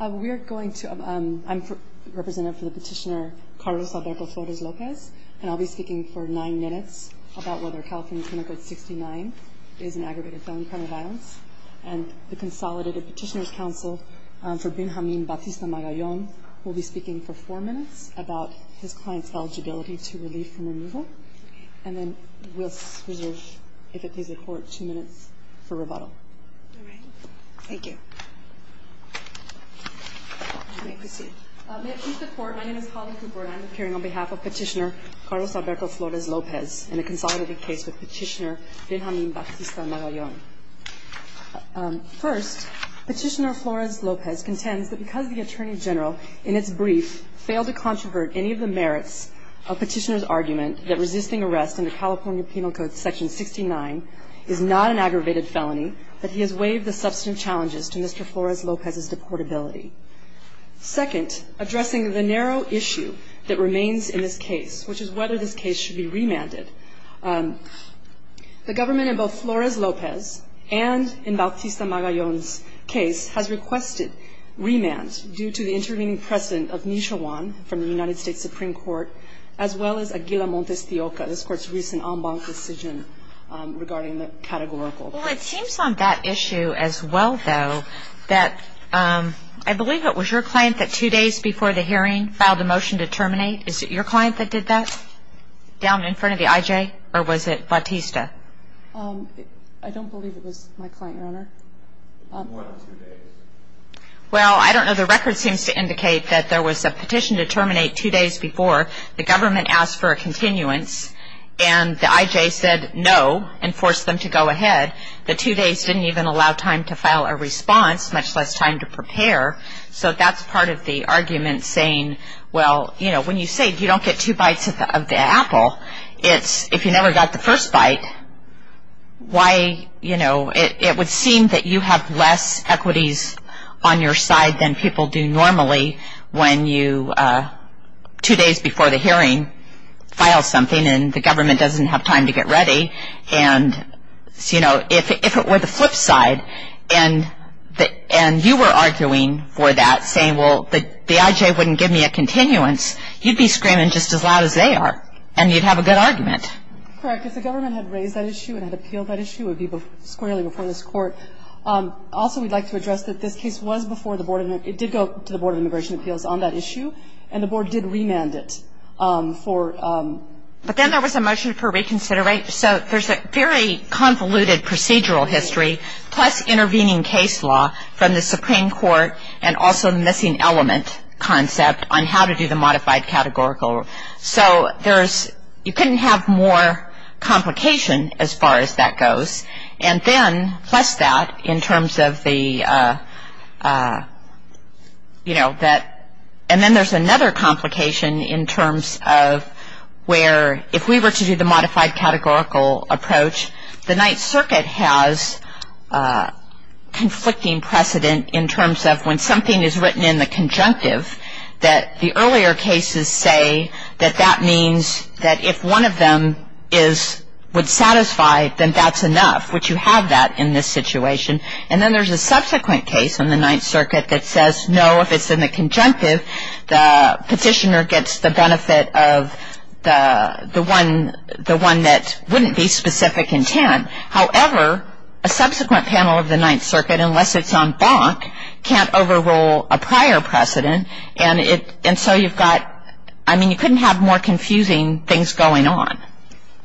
We're going to, I'm representative for the petitioner Carlos Alberto Flores López, and I'll be speaking for nine minutes about whether California Criminal Code 69 is an aggravated felon crime of violence. And the consolidated petitioner's counsel for Benjamin Bautista-Magallon will be speaking for four minutes about his client's eligibility to relief from removal. And then we'll reserve, if it pleases the court, two minutes for rebuttal. Thank you. May it please the court, my name is Holly Cooper and I'm appearing on behalf of Petitioner Carlos Alberto Flores López in a consolidated case with Petitioner Benjamin Bautista-Magallon. First, Petitioner Flores López contends that because the Attorney General, in its brief, failed to controvert any of the merits of Petitioner's argument that resisting arrest under California Penal Code Section 69 is not an aggravated felony, that he has waived the substantive challenges to his client's eligibility. Second, addressing the narrow issue that remains in this case, which is whether this case should be remanded, the government in both Flores López and in Bautista-Magallon's case has requested remands due to the intervening precedent of Nisha Wan from the United States Supreme Court, as well as Aguila Montes-Tioca, this court's recent en banc decision regarding the categorical. Well, it seems on that issue as well, though, that I believe it was your client that two days before the hearing filed a motion to terminate. Is it your client that did that down in front of the IJ or was it Bautista? I don't believe it was my client, Your Honor. Well, I don't know. The record seems to indicate that there was a petition to terminate two days before the government asked for a continuance and the IJ said no and forced them to go ahead. The two days didn't even allow time to file a response, much less time to prepare. So that's part of the argument saying, well, you know, when you say you don't get two bites of the apple, it's if you never got the first bite, why, you know, it would seem that you have less equities on your side than people do normally when you two days before the hearing file something and the government doesn't have time to get ready. And, you know, if it were the flip side and you were arguing for that, saying, well, the IJ wouldn't give me a continuance, you'd be screaming just as loud as they are and you'd have a good argument. Correct. If the government had raised that issue and had appealed that issue, it would be squarely before this court. Also, we'd like to address that this case was before the board. It did go to the Board of Immigration Appeals on that issue. And the board did remand it for. But then there was a motion for reconsideration. So there's a very convoluted procedural history plus intervening case law from the Supreme Court and also missing element concept on how to do the modified categorical. So there's, you couldn't have more complication as far as that goes. And then, plus that, in terms of the, you know, that, and then there's another complication in terms of where if we were to do the modified categorical approach, the Ninth Circuit has conflicting precedent in terms of when something is written in the conjunctive that the earlier cases say that that means that if one of them is, would satisfy, then that's enough, which you have that in this situation. And then there's a subsequent case in the Ninth Circuit that says, no, if it's in the conjunctive, the petitioner gets the benefit of the one that wouldn't be specific intent. However, a subsequent panel of the Ninth Circuit, unless it's on BOC, can't overrule a prior precedent. And it, and so you've got, I mean, you couldn't have more confusing things going on.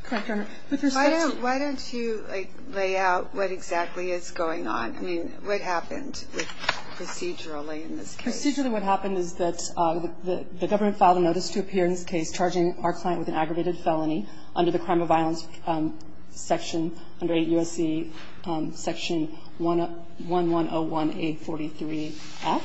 Correct, Your Honor. Why don't, why don't you like lay out what exactly is going on? I mean, what happened with procedurally in this case? Procedurally what happened is that the government filed a notice to appear in this case, charging our client with an aggravated felony under the Crime of Violence Section, under USC Section 1101A43F,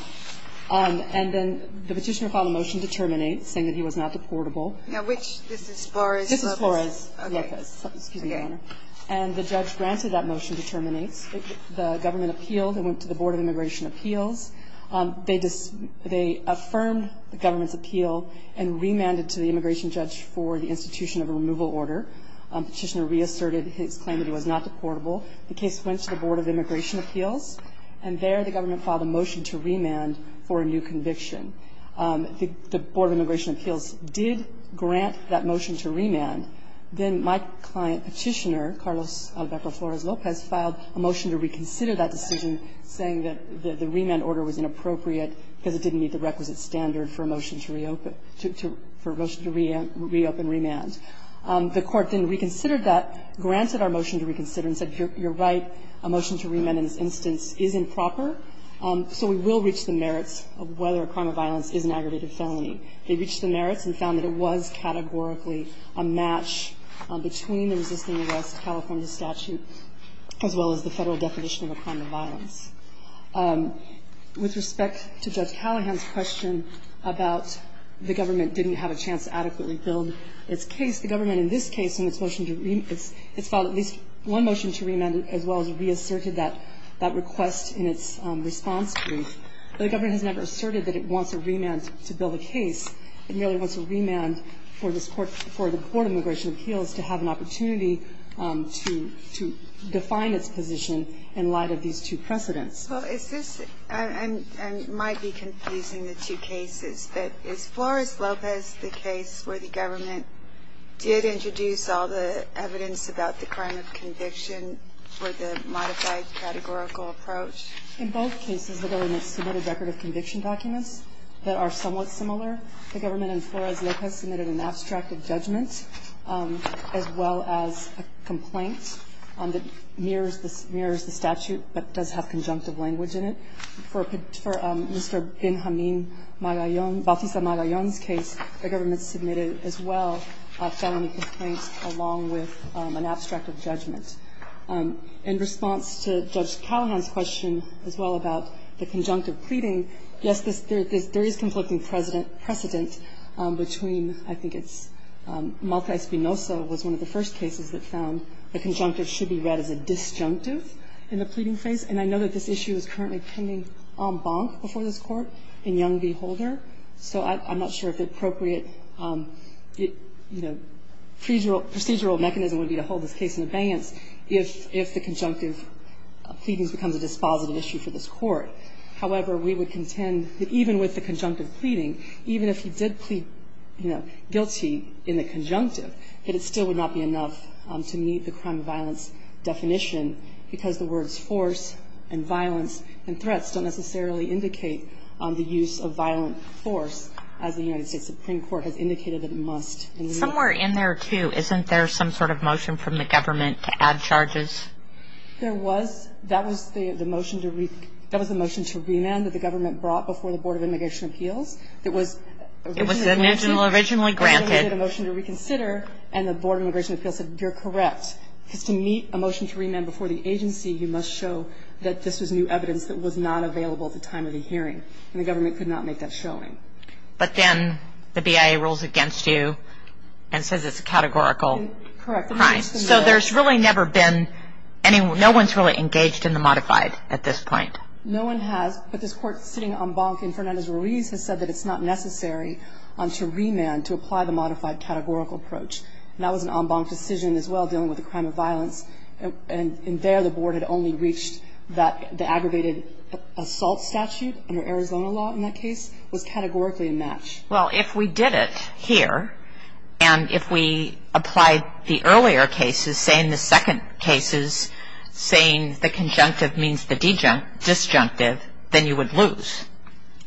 and then the petitioner filed a motion to terminate, saying that he was not deportable. Now, which, this is Flores? This is Flores, yes, excuse me, Your Honor. And the judge granted that motion to terminate. The government appealed and went to the Board of Immigration Appeals. They, they affirmed the government's appeal and remanded to the immigration judge for the institution of a removal order. Petitioner reasserted his claim that he was not deportable. The case went to the Board of Immigration Appeals, and there the government filed a motion to remand for a new conviction. The, the Board of Immigration Appeals did grant that motion to remand. Then my client, petitioner, Carlos Alberto Flores Lopez, filed a motion to reconsider that decision, saying that the, the remand order was inappropriate because it didn't meet the requisite standard for a motion to reopen, to, to, for a motion to re, reopen remand. The court then reconsidered that, granted our motion to reconsider, and said, you're, you're right, a motion to remand in this instance is improper, so we will reach the merits of whether a crime of violence is an aggravated felony. They reached the merits and found that it was categorically a match between the resisting arrest California statute as well as the federal definition of a crime of violence. With respect to Judge Callahan's question about the government didn't have a chance to adequately build its case, the government in this case, in its motion to remand, it's, it's filed at least one motion to remand as well as reasserted that, that request in its response brief. But the government has never asserted that it wants a remand to build a case. It merely wants a remand for this court, for the Board of Immigration Appeals to have an opportunity to, to define its position in light of these two precedents. Well, is this, and, and might be confusing the two cases, but is Flores-Lopez the case where the government did introduce all the evidence about the crime of conviction for the modified categorical approach? In both cases, the government submitted record of conviction documents that are somewhat similar. The government in Flores-Lopez submitted an abstract of judgment as well as a complaint that mirrors the statute, but does have conjunctive language in it. For Mr. Benjamin Magallon, Bautista Magallon's case, the government submitted as well a felony complaint along with an abstract of judgment. In response to Judge Callahan's question as well about the conjunctive pleading, yes, there is conflicting precedent between, I think it's Malta-Espinosa was one of the first cases that found the conjunctive should be read as a disjunctive in the pleading phase. And I know that this issue is currently pending en banc before this court in Young v. Holder. So I'm not sure if the appropriate, you know, procedural, procedural mechanism would be to hold this case in abeyance if, if the conjunctive pleadings becomes a dispositive issue for this court. However, we would contend that even with the conjunctive pleading, even if he did plead, you know, guilty in the conjunctive, that it still would not be enough to meet the crime of violence definition because the words force and violence and threats don't necessarily indicate the use of violent force as the United States Supreme Court has indicated that it must. Somewhere in there too, isn't there some sort of motion from the government to add charges? There was. That was the motion to re, that was the motion to remand that the government brought before the Board of Immigration Appeals. It was, It was originally granted. It was a motion to reconsider and the Board of Immigration Appeals said you're correct because to meet a motion to remand before the agency, you must show that this was new evidence that was not available at the time of the hearing and the government could not make that showing. But then the BIA rules against you and says it's a categorical crime. So there's really never been any, no one's really engaged in the modified at this point. No one has, but this court sitting en banc in Fernandez Ruiz has said that it's not necessary to remand to apply the modified categorical approach. And that was an en banc decision as well dealing with a crime of violence and in there the Board had only reached that the aggravated assault statute under Arizona law in that case was categorically a match. Well, if we did it here and if we applied the earlier cases, say in the second cases, saying the conjunctive means the disjunctive, then you would lose.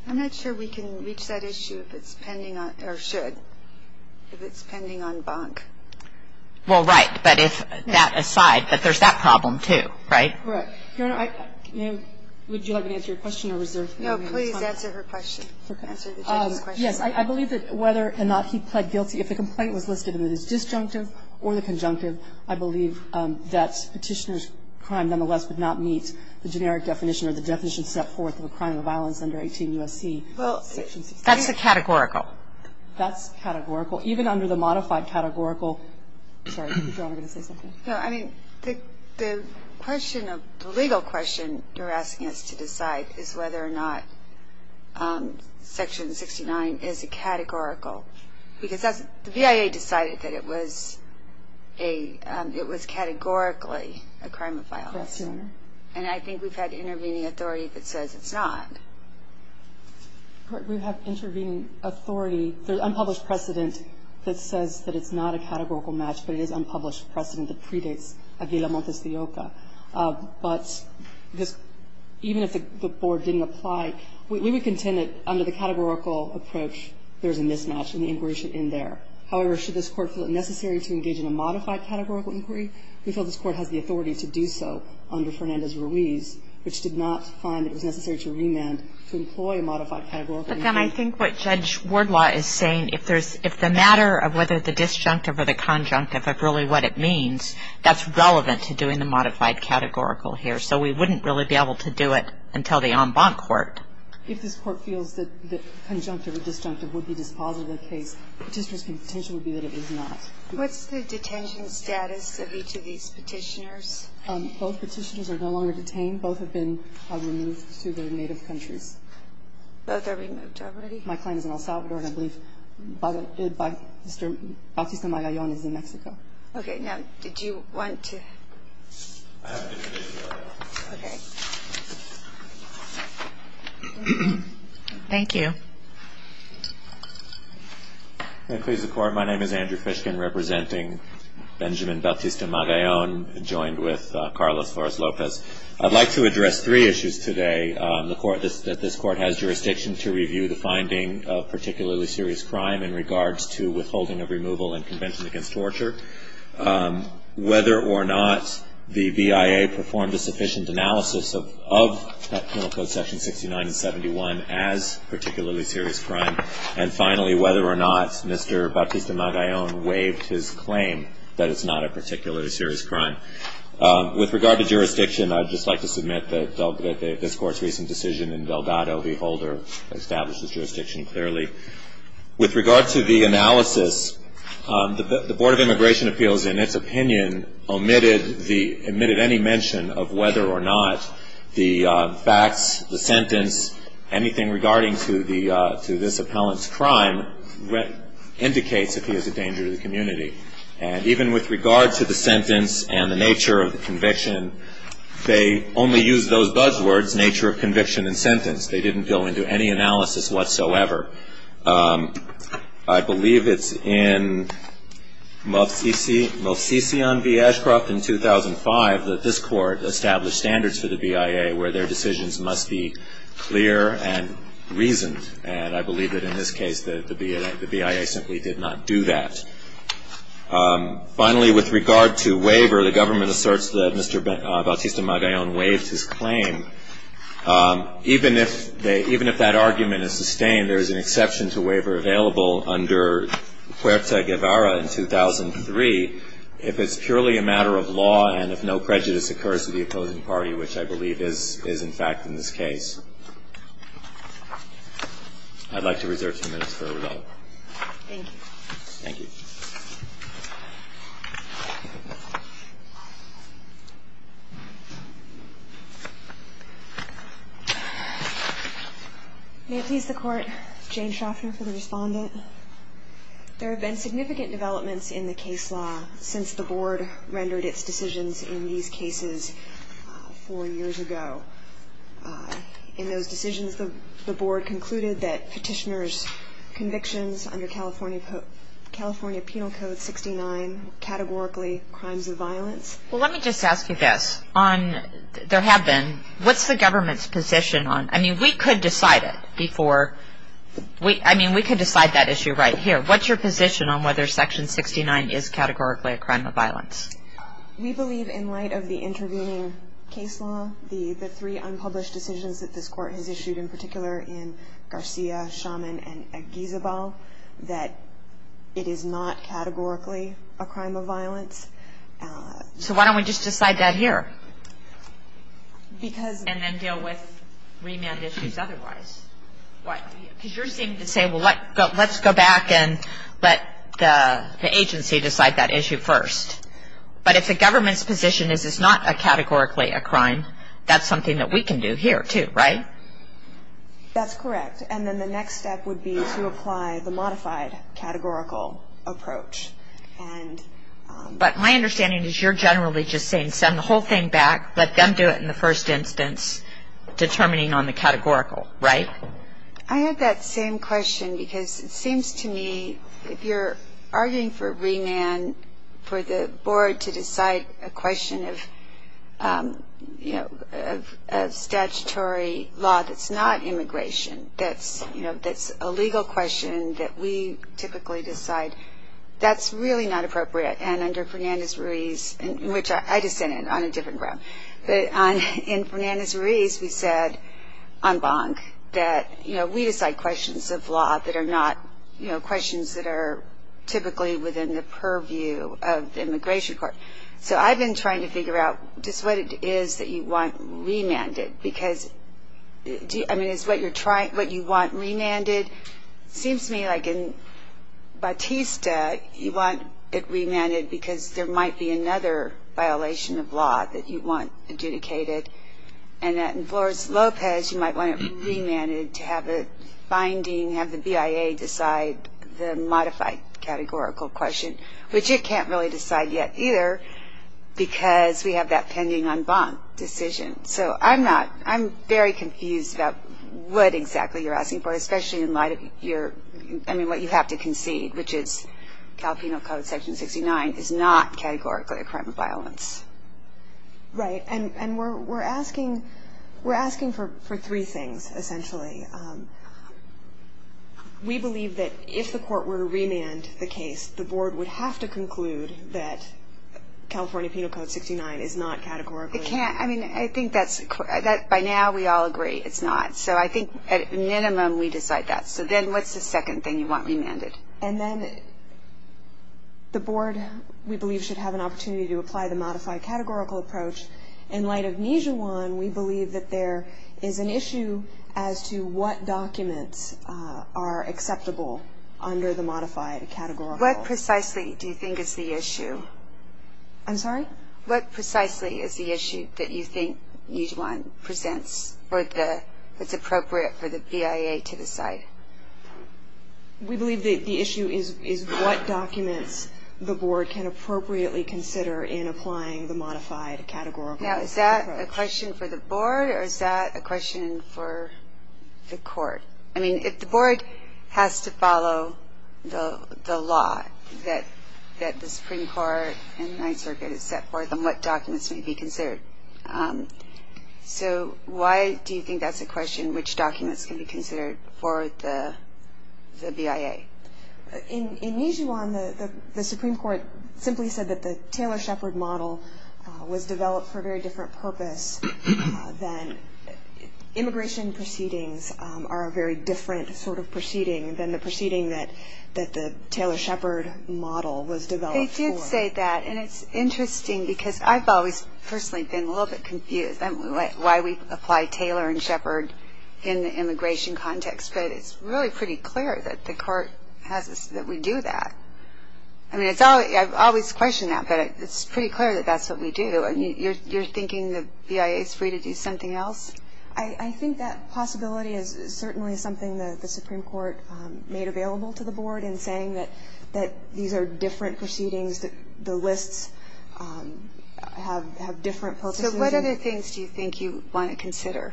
I'm not sure we can reach that issue if it's pending on, or should, if it's pending on banc. Well, right. But if that aside, but there's that problem too, right? Right. Your Honor, would you like me to answer your question or was there? No, please answer her question. Okay. Answer the judge's question. Yes, I believe that whether or not he pled guilty, if the complaint was listed in the disjunctive or the conjunctive, I believe that petitioner's crime nonetheless would not meet the generic definition or the definition set forth of a crime of violence under 18 U.S.C. Well, that's a categorical. That's categorical. Even under the modified categorical, sorry, did you want me to say something? No, I mean, the, the question of, the legal question you're asking us to decide is whether or not section 69 is a categorical because that's, the V.I.A. decided that it was a, it was categorically a crime of violence. Yes, Your Honor. And I think we've had intervening authority that says it's not. We have intervening authority. There's unpublished precedent that says that it's not a categorical match, but it is unpublished precedent that predates Avila-Montes de Yoca. But this, even if the board didn't apply, we would contend that under the categorical approach, there's a mismatch and the inquiry should end there. However, should this court feel it necessary to engage in a modified categorical inquiry, we feel this court has the authority to do so under Fernandez-Ruiz, which did not find it was necessary to remand to employ a modified categorical inquiry. But then I think what Judge Wardlaw is saying, if there's, if the matter of whether the disjunctive or the conjunctive of really what it means, that's relevant to doing the modified categorical here. So we wouldn't really be able to do it until the en banc court. If this court feels that the conjunctive or disjunctive would be dispositive of the case, petitioners' potential would be that it is not. What's the detention status of each of these petitioners? Both petitioners are no longer detained. Both have been removed to their native countries. Both are removed already? My client is in El Salvador, and I believe Mr. Bautista-Magallon is in Mexico. Okay. Now, did you want to? Thank you. May it please the court, my name is Andrew Fishkin, representing Benjamin Bautista-Magallon, joined with Carlos Flores-Lopez. I'd like to address three issues today. The court, this, that this court has jurisdiction to review the finding of particularly serious crime in regards to withholding of removal and convention against torture. Whether or not the BIA performed a sufficient analysis of, of penal code section 69 and 71 as particularly serious crime. And finally, whether or not Mr. Bautista-Magallon waived his claim that it's not a particularly serious crime. With regard to jurisdiction, I'd just like to submit that this court's recent decision in Delgado Beholder establishes jurisdiction clearly. With regard to the analysis, the Board of Immigration Appeals, in its opinion, omitted the, omitted any mention of whether or not the facts, the sentence, to this appellant's crime indicates that he is a danger to the community. And even with regard to the sentence and the nature of the conviction, they only use those buzzwords, nature of conviction and sentence. They didn't go into any analysis whatsoever. I believe it's in Movsisyan v. Ashcroft in 2005 that this court established standards for the BIA where their decisions must be clear and reasoned. And I believe that in this case, the BIA simply did not do that. Finally, with regard to waiver, the government asserts that Mr. Bautista Magallon waived his claim. Even if they, even if that argument is sustained, there is an exception to waiver available under Huerta Guevara in 2003, if it's purely a matter of law and if no prejudice occurs to the opposing party, which I believe is, is in fact in this case. I'd like to reserve two minutes for rebuttal. Thank you. Thank you. Thank you. May it please the court, Jane Schaffner for the respondent. There have been significant developments in the case law since the board rendered its decisions in these cases four years ago. In those decisions, the board concluded that petitioners' convictions under California Penal Code 69 categorically crimes of violence. Well, let me just ask you this. On, there have been, what's the government's position on, I mean, we could decide it before, we, I mean, we could decide that issue right here. What's your position on whether Section 69 is categorically a crime of violence? We believe in light of the intervening case law, the three unpublished decisions that this court has issued, in particular in Garcia, Shaman and Aguizabal, that it is not categorically a crime of violence. So why don't we just decide that here? Because, and then deal with remand issues otherwise. What? Because you're saying to say, well, let's go back and let the agency decide that issue first. But if the government's position is it's not a categorically a crime, that's something that we can do here too, right? That's correct. And then the next step would be to apply the modified categorical approach. And But my understanding is you're generally just saying send the whole thing back, let them do it in the first instance, determining on the categorical, right? I had that same question because it seems to me if you're arguing for remand for the board to decide a question of you know, of statutory law that's not immigration, that's, you know, that's a legal question that we typically decide that's really not appropriate. And under Fernandez-Ruiz, which I dissented on a different ground, but on in Fernandez-Ruiz, we said en banc, that, you know, we decide questions of law that are not, you know, questions that are typically within the purview of the Immigration Court. So I've been trying to figure out just what it is that you want remanded because I mean is what you're trying, what you want remanded seems to me like in Batista, you want it remanded because there might be another violation of law that you want adjudicated and that in Flores-Lopez, you might want it remanded to have a finding, have the BIA decide the modified categorical question, which it can't really decide yet either because we have that pending en banc decision. So I'm not, I'm very confused about what exactly you're asking for, especially in light of your, I mean what you have to concede, which is Cal Penal Code section 69 is not categorically a crime of violence. Right, and we're asking, we're asking for three things essentially. We believe that if the court were to remand the case, the board would have to conclude that California Penal Code 69 is not categorically. It can't, I mean I think that's, by now we all agree it's not. So I think at minimum we decide that. So then what's the second thing you want remanded? And then the board, we believe should have an opportunity to apply the modified categorical approach. In light of Nijuan, we believe that there is an issue as to what documents are acceptable under the modified categorical. What precisely do you think is the issue? I'm sorry? What precisely is the issue that you think Nijuan presents for the, that's appropriate for the BIA to decide? We believe that the issue is is what documents the board can appropriately consider in applying the modified categorical approach. Now is that a question for the board or is that a question for the court? I mean if the board has to follow the law that that the Supreme Court and Ninth Circuit has set forth then what documents may be considered? So why do you think that's a question? Which documents can be considered for the the BIA? In Nijuan, the Supreme Court simply said that the Taylor-Shepard model was developed for a very different purpose than immigration proceedings are a very different sort of proceeding than the proceeding that that the Taylor-Shepard model was developed for. They did say that and it's interesting because I've always personally been a little bit confused. Why we apply Taylor and Shepard in the immigration context but it's really pretty clear that the court has us that we do that. I mean it's all I've always questioned that but it's pretty clear that that's what we do and you're thinking the BIA is free to do something else? I think that possibility is certainly something that the Supreme Court made available to the board in saying that that these are different proceedings that the lists have different purposes. What other things do you think you want to consider?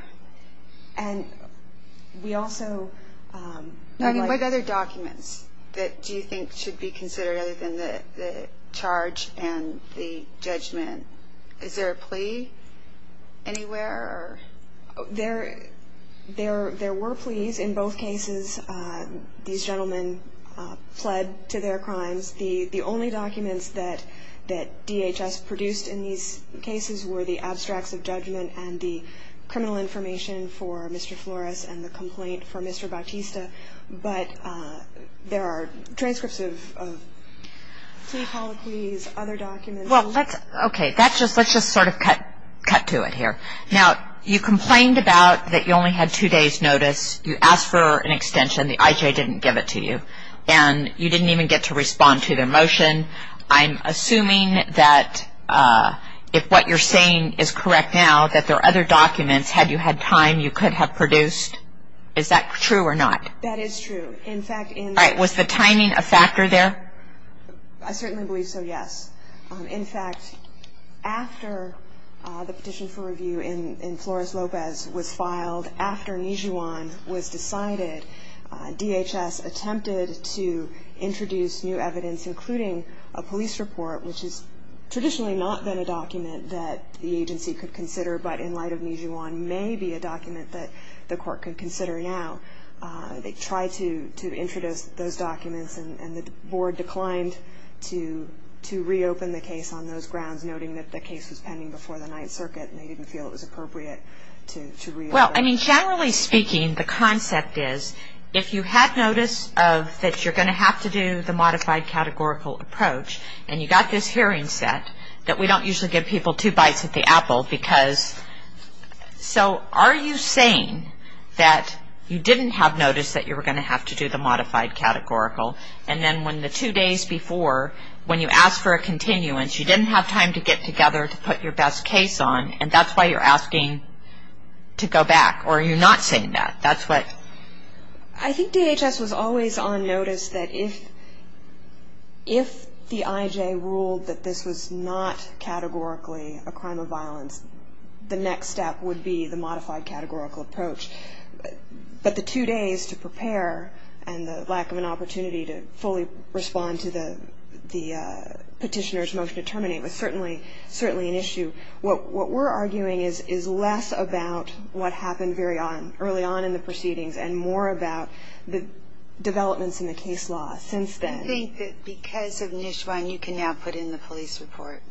And we also I mean what other documents that do you think should be considered other than the charge and the judgment? Is there a plea anywhere? There there were pleas in both cases. These gentlemen pled to their crimes. The only documents that that DHS produced in these cases were the abstracts of judgment and the criminal information for Mr. Flores and the complaint for Mr. Bautista but there are transcripts of plea, poloquies, other documents. Well let's okay that's just let's just sort of cut cut to it here. Now you complained about that you only had two days notice. You asked for an extension. The IJ didn't give it to you and you didn't even get to respond to their motion. I'm assuming that if what you're saying is correct now that there are other documents had you had time you could have produced. Is that true or not? That is true. In fact in Was the timing a factor there? I certainly believe so, yes. In fact after the petition for review in Flores-Lopez was filed after Nijuan was decided DHS attempted to introduce new evidence including a police report which is traditionally not been a document that the agency could consider but in light of Nijuan may be a document that the court could consider now. They tried to to introduce those documents and the board declined to to reopen the case on those grounds noting that the case was pending before the Ninth Circuit and they didn't feel it was appropriate to reopen. Well I mean generally speaking the concept is if you had notice of that you're going to have to do the modified categorical approach and you got this hearing set that we don't usually give people two bites at the apple because so are you saying that you didn't have notice that you were going to have to do the modified categorical and then when the two days before when you ask for a continuance you didn't have time to get together to put your best case on and that's why you're asking to go back or you're not saying that that's what I think DHS was always on notice that if if the IJ ruled that this was not categorically a crime of violence the next step would be the modified categorical approach but the two days to prepare and the lack of an opportunity to fully respond to the the petitioner's motion to terminate was certainly certainly an issue. What we're arguing is is less about what happened very on early on in the proceedings and more about the developments in the case law since then. I think that because of Nishwan you can now put in the police report.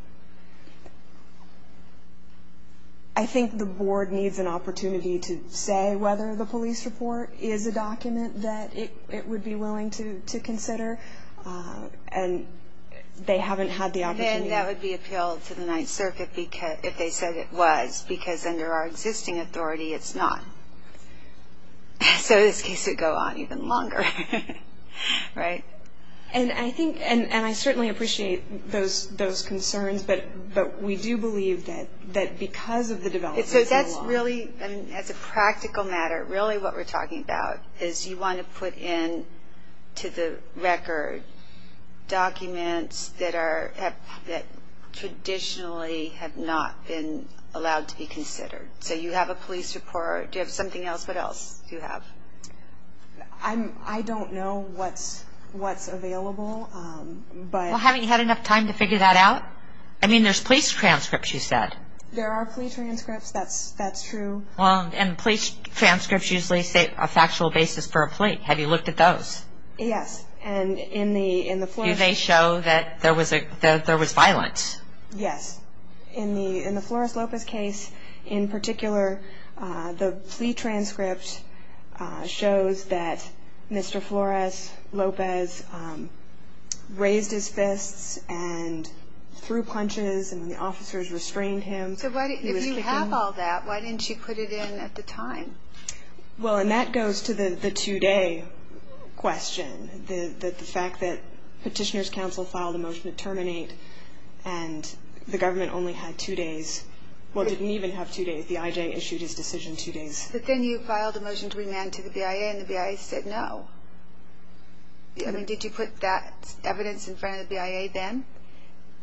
I think the board needs an opportunity to say whether the police report is a document that it would be willing to consider and they haven't had the opportunity. That would be appealed to the Ninth Circuit because if they said it was because under our existing authority, it's not. So this case would go on even longer. Right? And I think and I certainly appreciate those those concerns, but but we do believe that that because of the developments in the law. That's really as a practical matter really what we're talking about is you want to put in to the record documents that are that traditionally have not been allowed to be considered. So you have a police report. Do you have something else? What else do you have? I'm I don't know what's what's available. But haven't you had enough time to figure that out? I mean, there's police transcripts. You said there are police transcripts. That's that's true. Well and police transcripts usually say a factual basis for a plea. Have you looked at those? Yes. And in the in the flu they show that there was a there was violence. Yes. In the in the Flores Lopez case in particular the plea transcript shows that Mr. Flores Lopez raised his fists and threw punches and the officers restrained him. So why didn't you have all that? Why didn't you put it in at the time? Well, and that goes to the the two-day question. The fact that Petitioners Council filed a motion to terminate and the government only had two days. Well, didn't even have two days. The IJ issued his decision two days. But then you filed a motion to remand to the BIA and the BIA said no. I mean, did you put that evidence in front of the BIA then?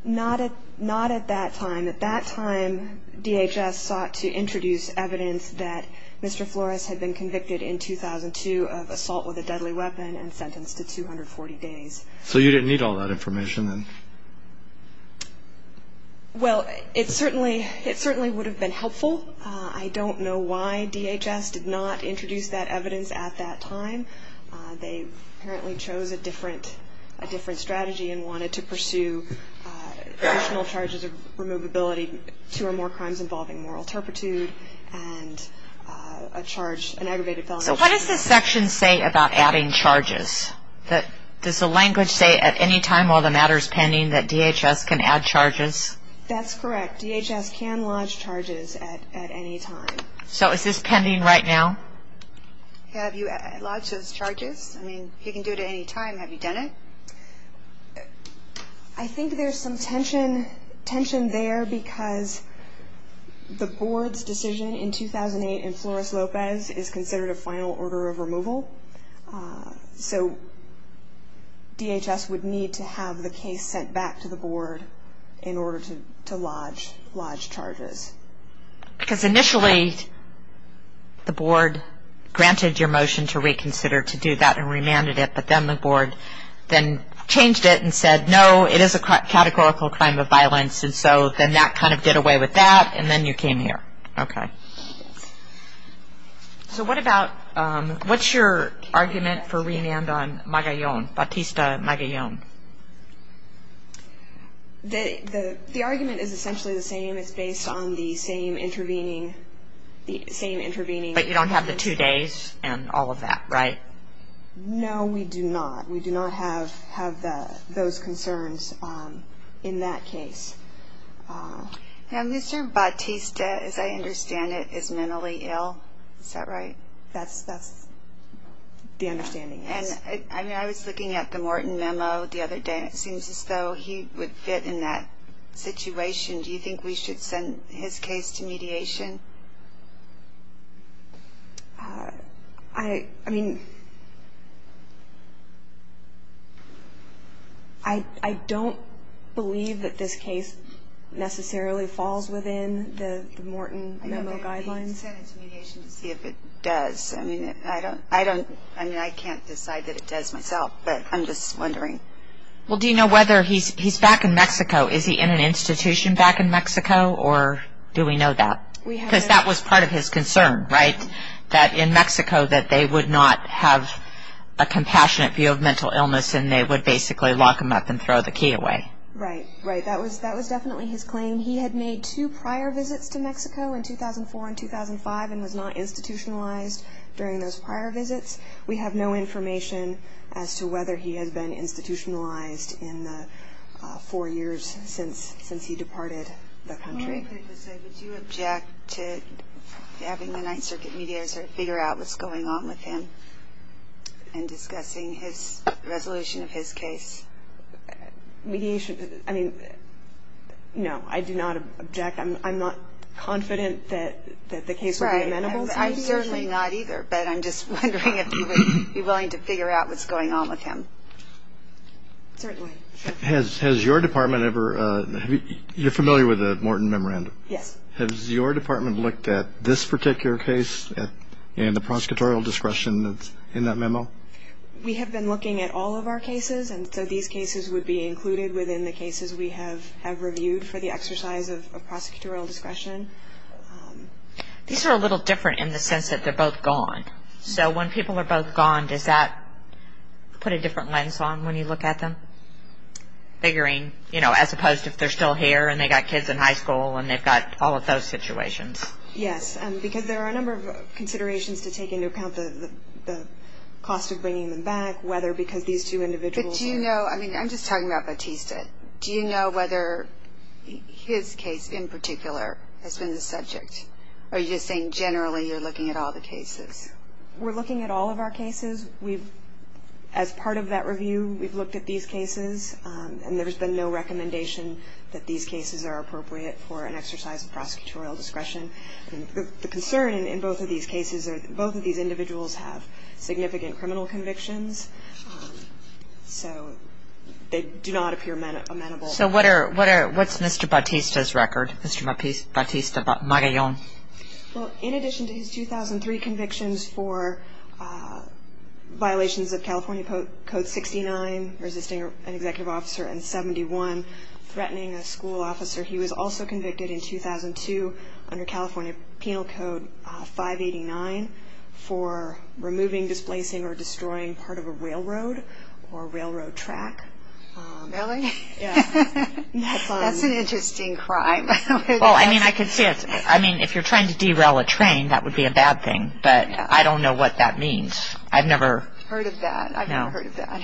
Not at not at that time. At that time DHS sought to introduce evidence that Mr. Flores had been convicted in 2002 of assault with a deadly weapon and sentenced to 240 days. So you didn't need all that information then? Well, it certainly it certainly would have been helpful. I don't know why DHS did not introduce that evidence at that time. They apparently chose a different a different strategy and wanted to pursue additional charges of removability, two or more crimes involving moral turpitude and a charge an aggravated felony. So what does this section say about adding charges? That does the language say at any time while the matter is pending that DHS can add charges? That's correct. DHS can lodge charges at any time. So is this pending right now? Have you lodged those charges? I mean, you can do it at any time. Have you done it? I think there's some tension tension there because the board's decision in 2008 and Flores Lopez is considered a final order of removal. So DHS would need to have the case sent back to the board in order to lodge charges. Because initially the board granted your motion to reconsider to do that and remanded it. But then the board then changed it and said, no, it is a categorical crime of violence. And so then that kind of did away with that and then you came here. Okay. So what about what's your argument for remand on Batista Magallon? The argument is essentially the same. It's based on the same intervening, the same intervening. But you don't have the two days and all of that, right? No, we do not. We do not have those concerns in that case. Now, Mr. Batista, as I understand it, is mentally ill. Is that right? That's the understanding. And I mean, I was looking at the Morton memo the other day. It seems as though he would fit in that situation. Do you think we should send his case to mediation? I mean, I don't believe that this case necessarily falls within the Morton memo guidelines. Send it to mediation to see if it does. I mean, I don't, I don't, I mean, I can't decide that it does myself, but I'm just wondering. Well, do you know whether he's back in Mexico? Is he in an institution back in Mexico or do we know that? Because that was part of his concern, right? That in Mexico that they would not have a compassionate view of mental illness and they would basically lock him up and throw the key away. Right, right. That was definitely his claim. He had made two prior visits to Mexico in 2004 and 2005 and was not institutionalized during those prior visits. We have no information as to whether he has been institutionalized in the four years since, since he departed the country. Would you object to having the Ninth Circuit mediator figure out what's going on with him and discussing his resolution of his case? Mediation, I mean, no, I do not object. I'm not confident that the case would be amenable. I'm certainly not either, but I'm just wondering if you would be willing to figure out what's going on with him. Certainly. Has your department ever, you're familiar with the Morton Memorandum? Yes. Has your department looked at this particular case and the prosecutorial discretion that's in that memo? We have been looking at all of our cases and so these cases would be included within the cases we have reviewed for the exercise of prosecutorial discretion. These are a little different in the sense that they're both gone. So when people are both gone, does that put a different lens on when you look at them? Figuring, you know, as opposed to if they're still here and they got kids in high school and they've got all of those situations. Yes, because there are a number of considerations to take into account the cost of bringing them back, whether because these two individuals. Do you know, I mean, I'm just talking about Batista. Do you know whether his case in particular has been the subject or are you just saying generally you're looking at all the cases? We're looking at all of our cases. We've, as part of that review, we've looked at these cases and there's been no recommendation that these cases are appropriate for an exercise of prosecutorial discretion. The concern in both of these cases are both of these individuals have significant criminal convictions. So they do not appear amenable. So what are, what's Mr. Batista's record, Mr. Batista Magallon? Well, in addition to his 2003 convictions for violations of California Code 69, resisting an executive officer and 71, threatening a school officer, he was also convicted in 2002 under California Penal Code 589 for removing, displacing, or destroying part of a railroad or railroad track. Really? That's an interesting crime. Well, I mean, I could see it. I mean, if you're trying to derail a train, that would be a bad thing. But I don't know what that means. I've never heard of that. I've never heard of that.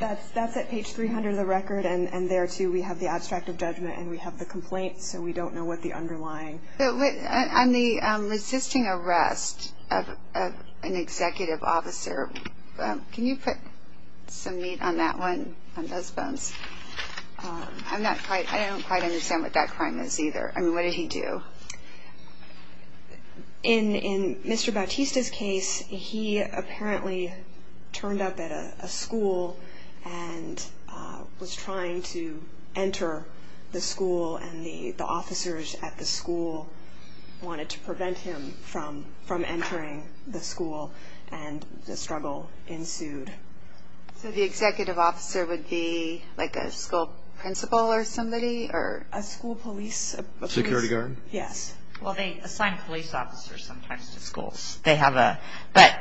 That's at page 300 of the record and there too, we have the abstract of judgment and we have the complaint so we don't know what the underlying. So on the resisting arrest of an executive officer, can you put some meat on that one, on those bones? I'm not quite, I don't quite understand what that crime is either. I mean, what did he do? In Mr. Batista's case, he apparently turned up at a school and was trying to enter the school and the officers at the school wanted to prevent him from entering the school and the struggle ensued. So the executive officer would be like a school principal or somebody or a school police? Security guard? Yes. Well, they assign police officers sometimes to schools. They have a, but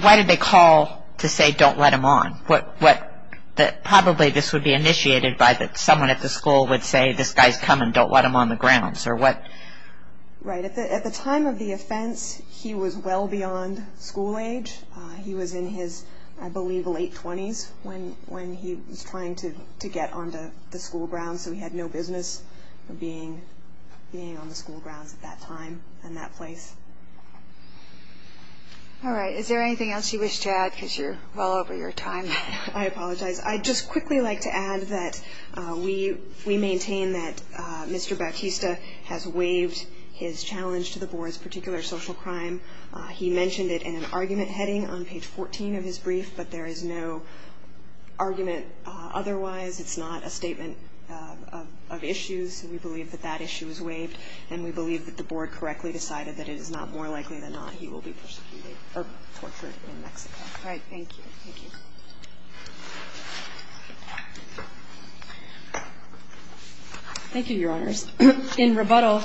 why did they call to say don't let him on? What, probably this would be initiated by that someone at the school would say this guy's coming, don't let him on the grounds. Or what? Right, at the time of the offense, he was well beyond school age. He was in his, I believe, late 20s when he was trying to get onto the school grounds. So he had no business being on the school grounds at that time and that place. All right. Is there anything else you wish to add because you're well over your time? I apologize. I just quickly like to add that we maintain that Mr. Bautista has waived his challenge to the board's particular social crime. He mentioned it in an argument heading on page 14 of his brief, but there is no argument. Otherwise, it's not a statement of issues. And we believe that that issue is waived and we believe that the board correctly decided that it is not more likely than not. All right. Thank you. Thank you. Thank you, Your Honors. In rebuttal,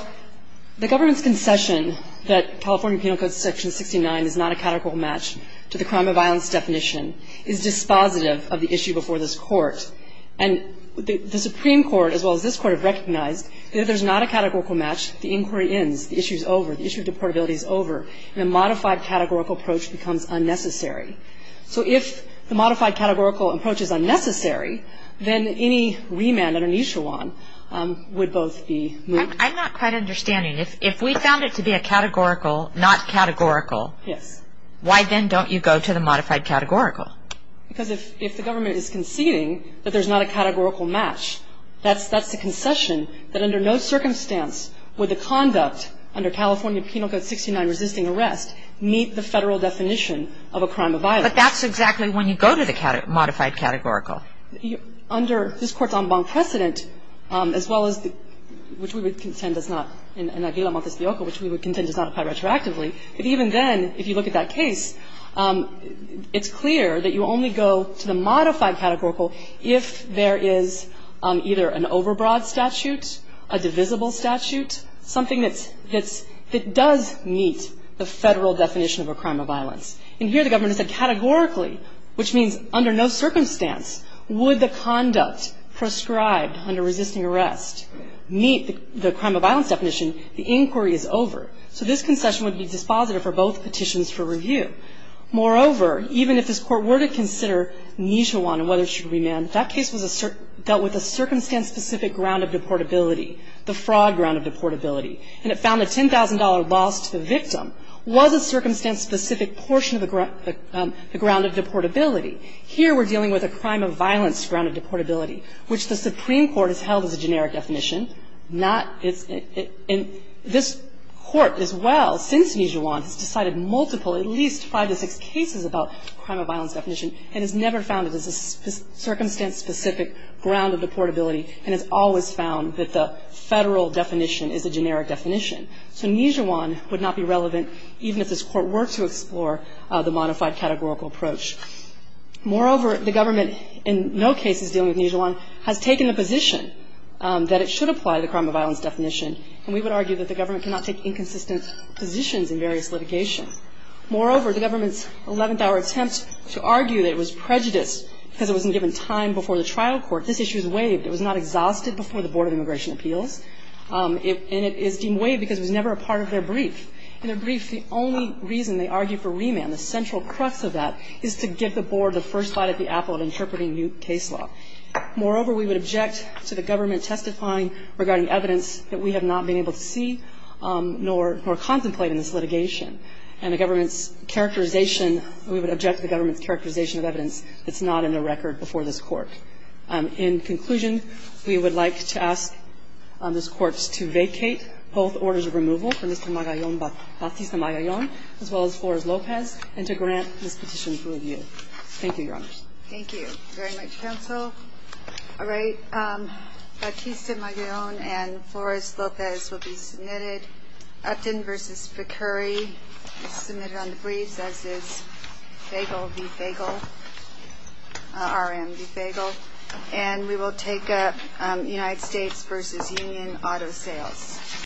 the government's concession that California Penal Code Section 69 is not a categorical match to the crime of violence definition is dispositive of the issue before this Court. And the Supreme Court, as well as this Court, have recognized that if there's not a categorical match, the inquiry ends, the issue is over, the issue of deportability is over, and a modified categorical approach becomes unnecessary. So if the modified categorical approach is unnecessary, then any remand or an issue on would both be moved. I'm not quite understanding. If we found it to be a categorical, not categorical, Yes. why then don't you go to the modified categorical? Because if the government is conceding that there's not a categorical match, that's the concession that under no circumstance would the conduct under California Penal Code 69 resisting arrest meet the federal definition of a crime of violence. But that's exactly when you go to the modified categorical. Under this Court's en banc precedent, as well as the – which we would contend does not – in Avila Montespioco, which we would contend does not apply retroactively. If even then, if you look at that case, it's clear that you only go to the modified categorical if there is either an overbroad statute, a divisible statute, something that's – that does meet the federal definition of a crime of violence. And here the government has said categorically, which means under no circumstance would the conduct prescribed under resisting arrest meet the crime of violence definition, the inquiry is over. So this concession would be dispositive for both petitions for review. Moreover, even if this Court were to consider Nijhawan and whether it should remand, that case was a – dealt with a circumstance-specific ground of deportability, the fraud ground of deportability. And it found a $10,000 loss to the victim was a circumstance-specific portion of the ground of deportability. Here we're dealing with a crime of violence ground of deportability, which the Supreme Court has held as a generic definition. Not – it's – and this Court as well, since Nijhawan, has decided multiple, at least five to six cases about crime of violence definition and has never found it as a circumstance-specific ground of deportability and has always found that the federal definition is a generic definition. So Nijhawan would not be relevant even if this Court were to explore the modified categorical approach. Moreover, the government, in no cases dealing with Nijhawan, has taken the position that it should apply the crime of violence definition. And we would argue that the government cannot take inconsistent positions in various litigation. Moreover, the government's 11th-hour attempt to argue that it was prejudiced because it wasn't given time before the trial court, this issue is waived. It was not exhausted before the Board of Immigration Appeals. And it is deemed waived because it was never a part of their brief. In their brief, the only reason they argue for remand, the central crux of that, is to give the Board the first bite of the apple of interpreting new case law. Moreover, we would object to the government testifying regarding evidence that we have not been able to see nor contemplate in this litigation. And the government's characterization, we would object to the government's characterization of evidence that's not in the record before this Court. In conclusion, we would like to ask this Court to vacate both orders of removal for Mr. Magallón, Batista Magallón, as well as Flores-Lopez, and to grant this to a view. Thank you, Your Honor. Thank you very much, Counsel. All right. Batista Magallón and Flores-Lopez will be submitted. Upton v. Picuri is submitted on the briefs, as is Fagel v. Fagel, R.M. v. Fagel. And we will take up United States v. Union auto sales.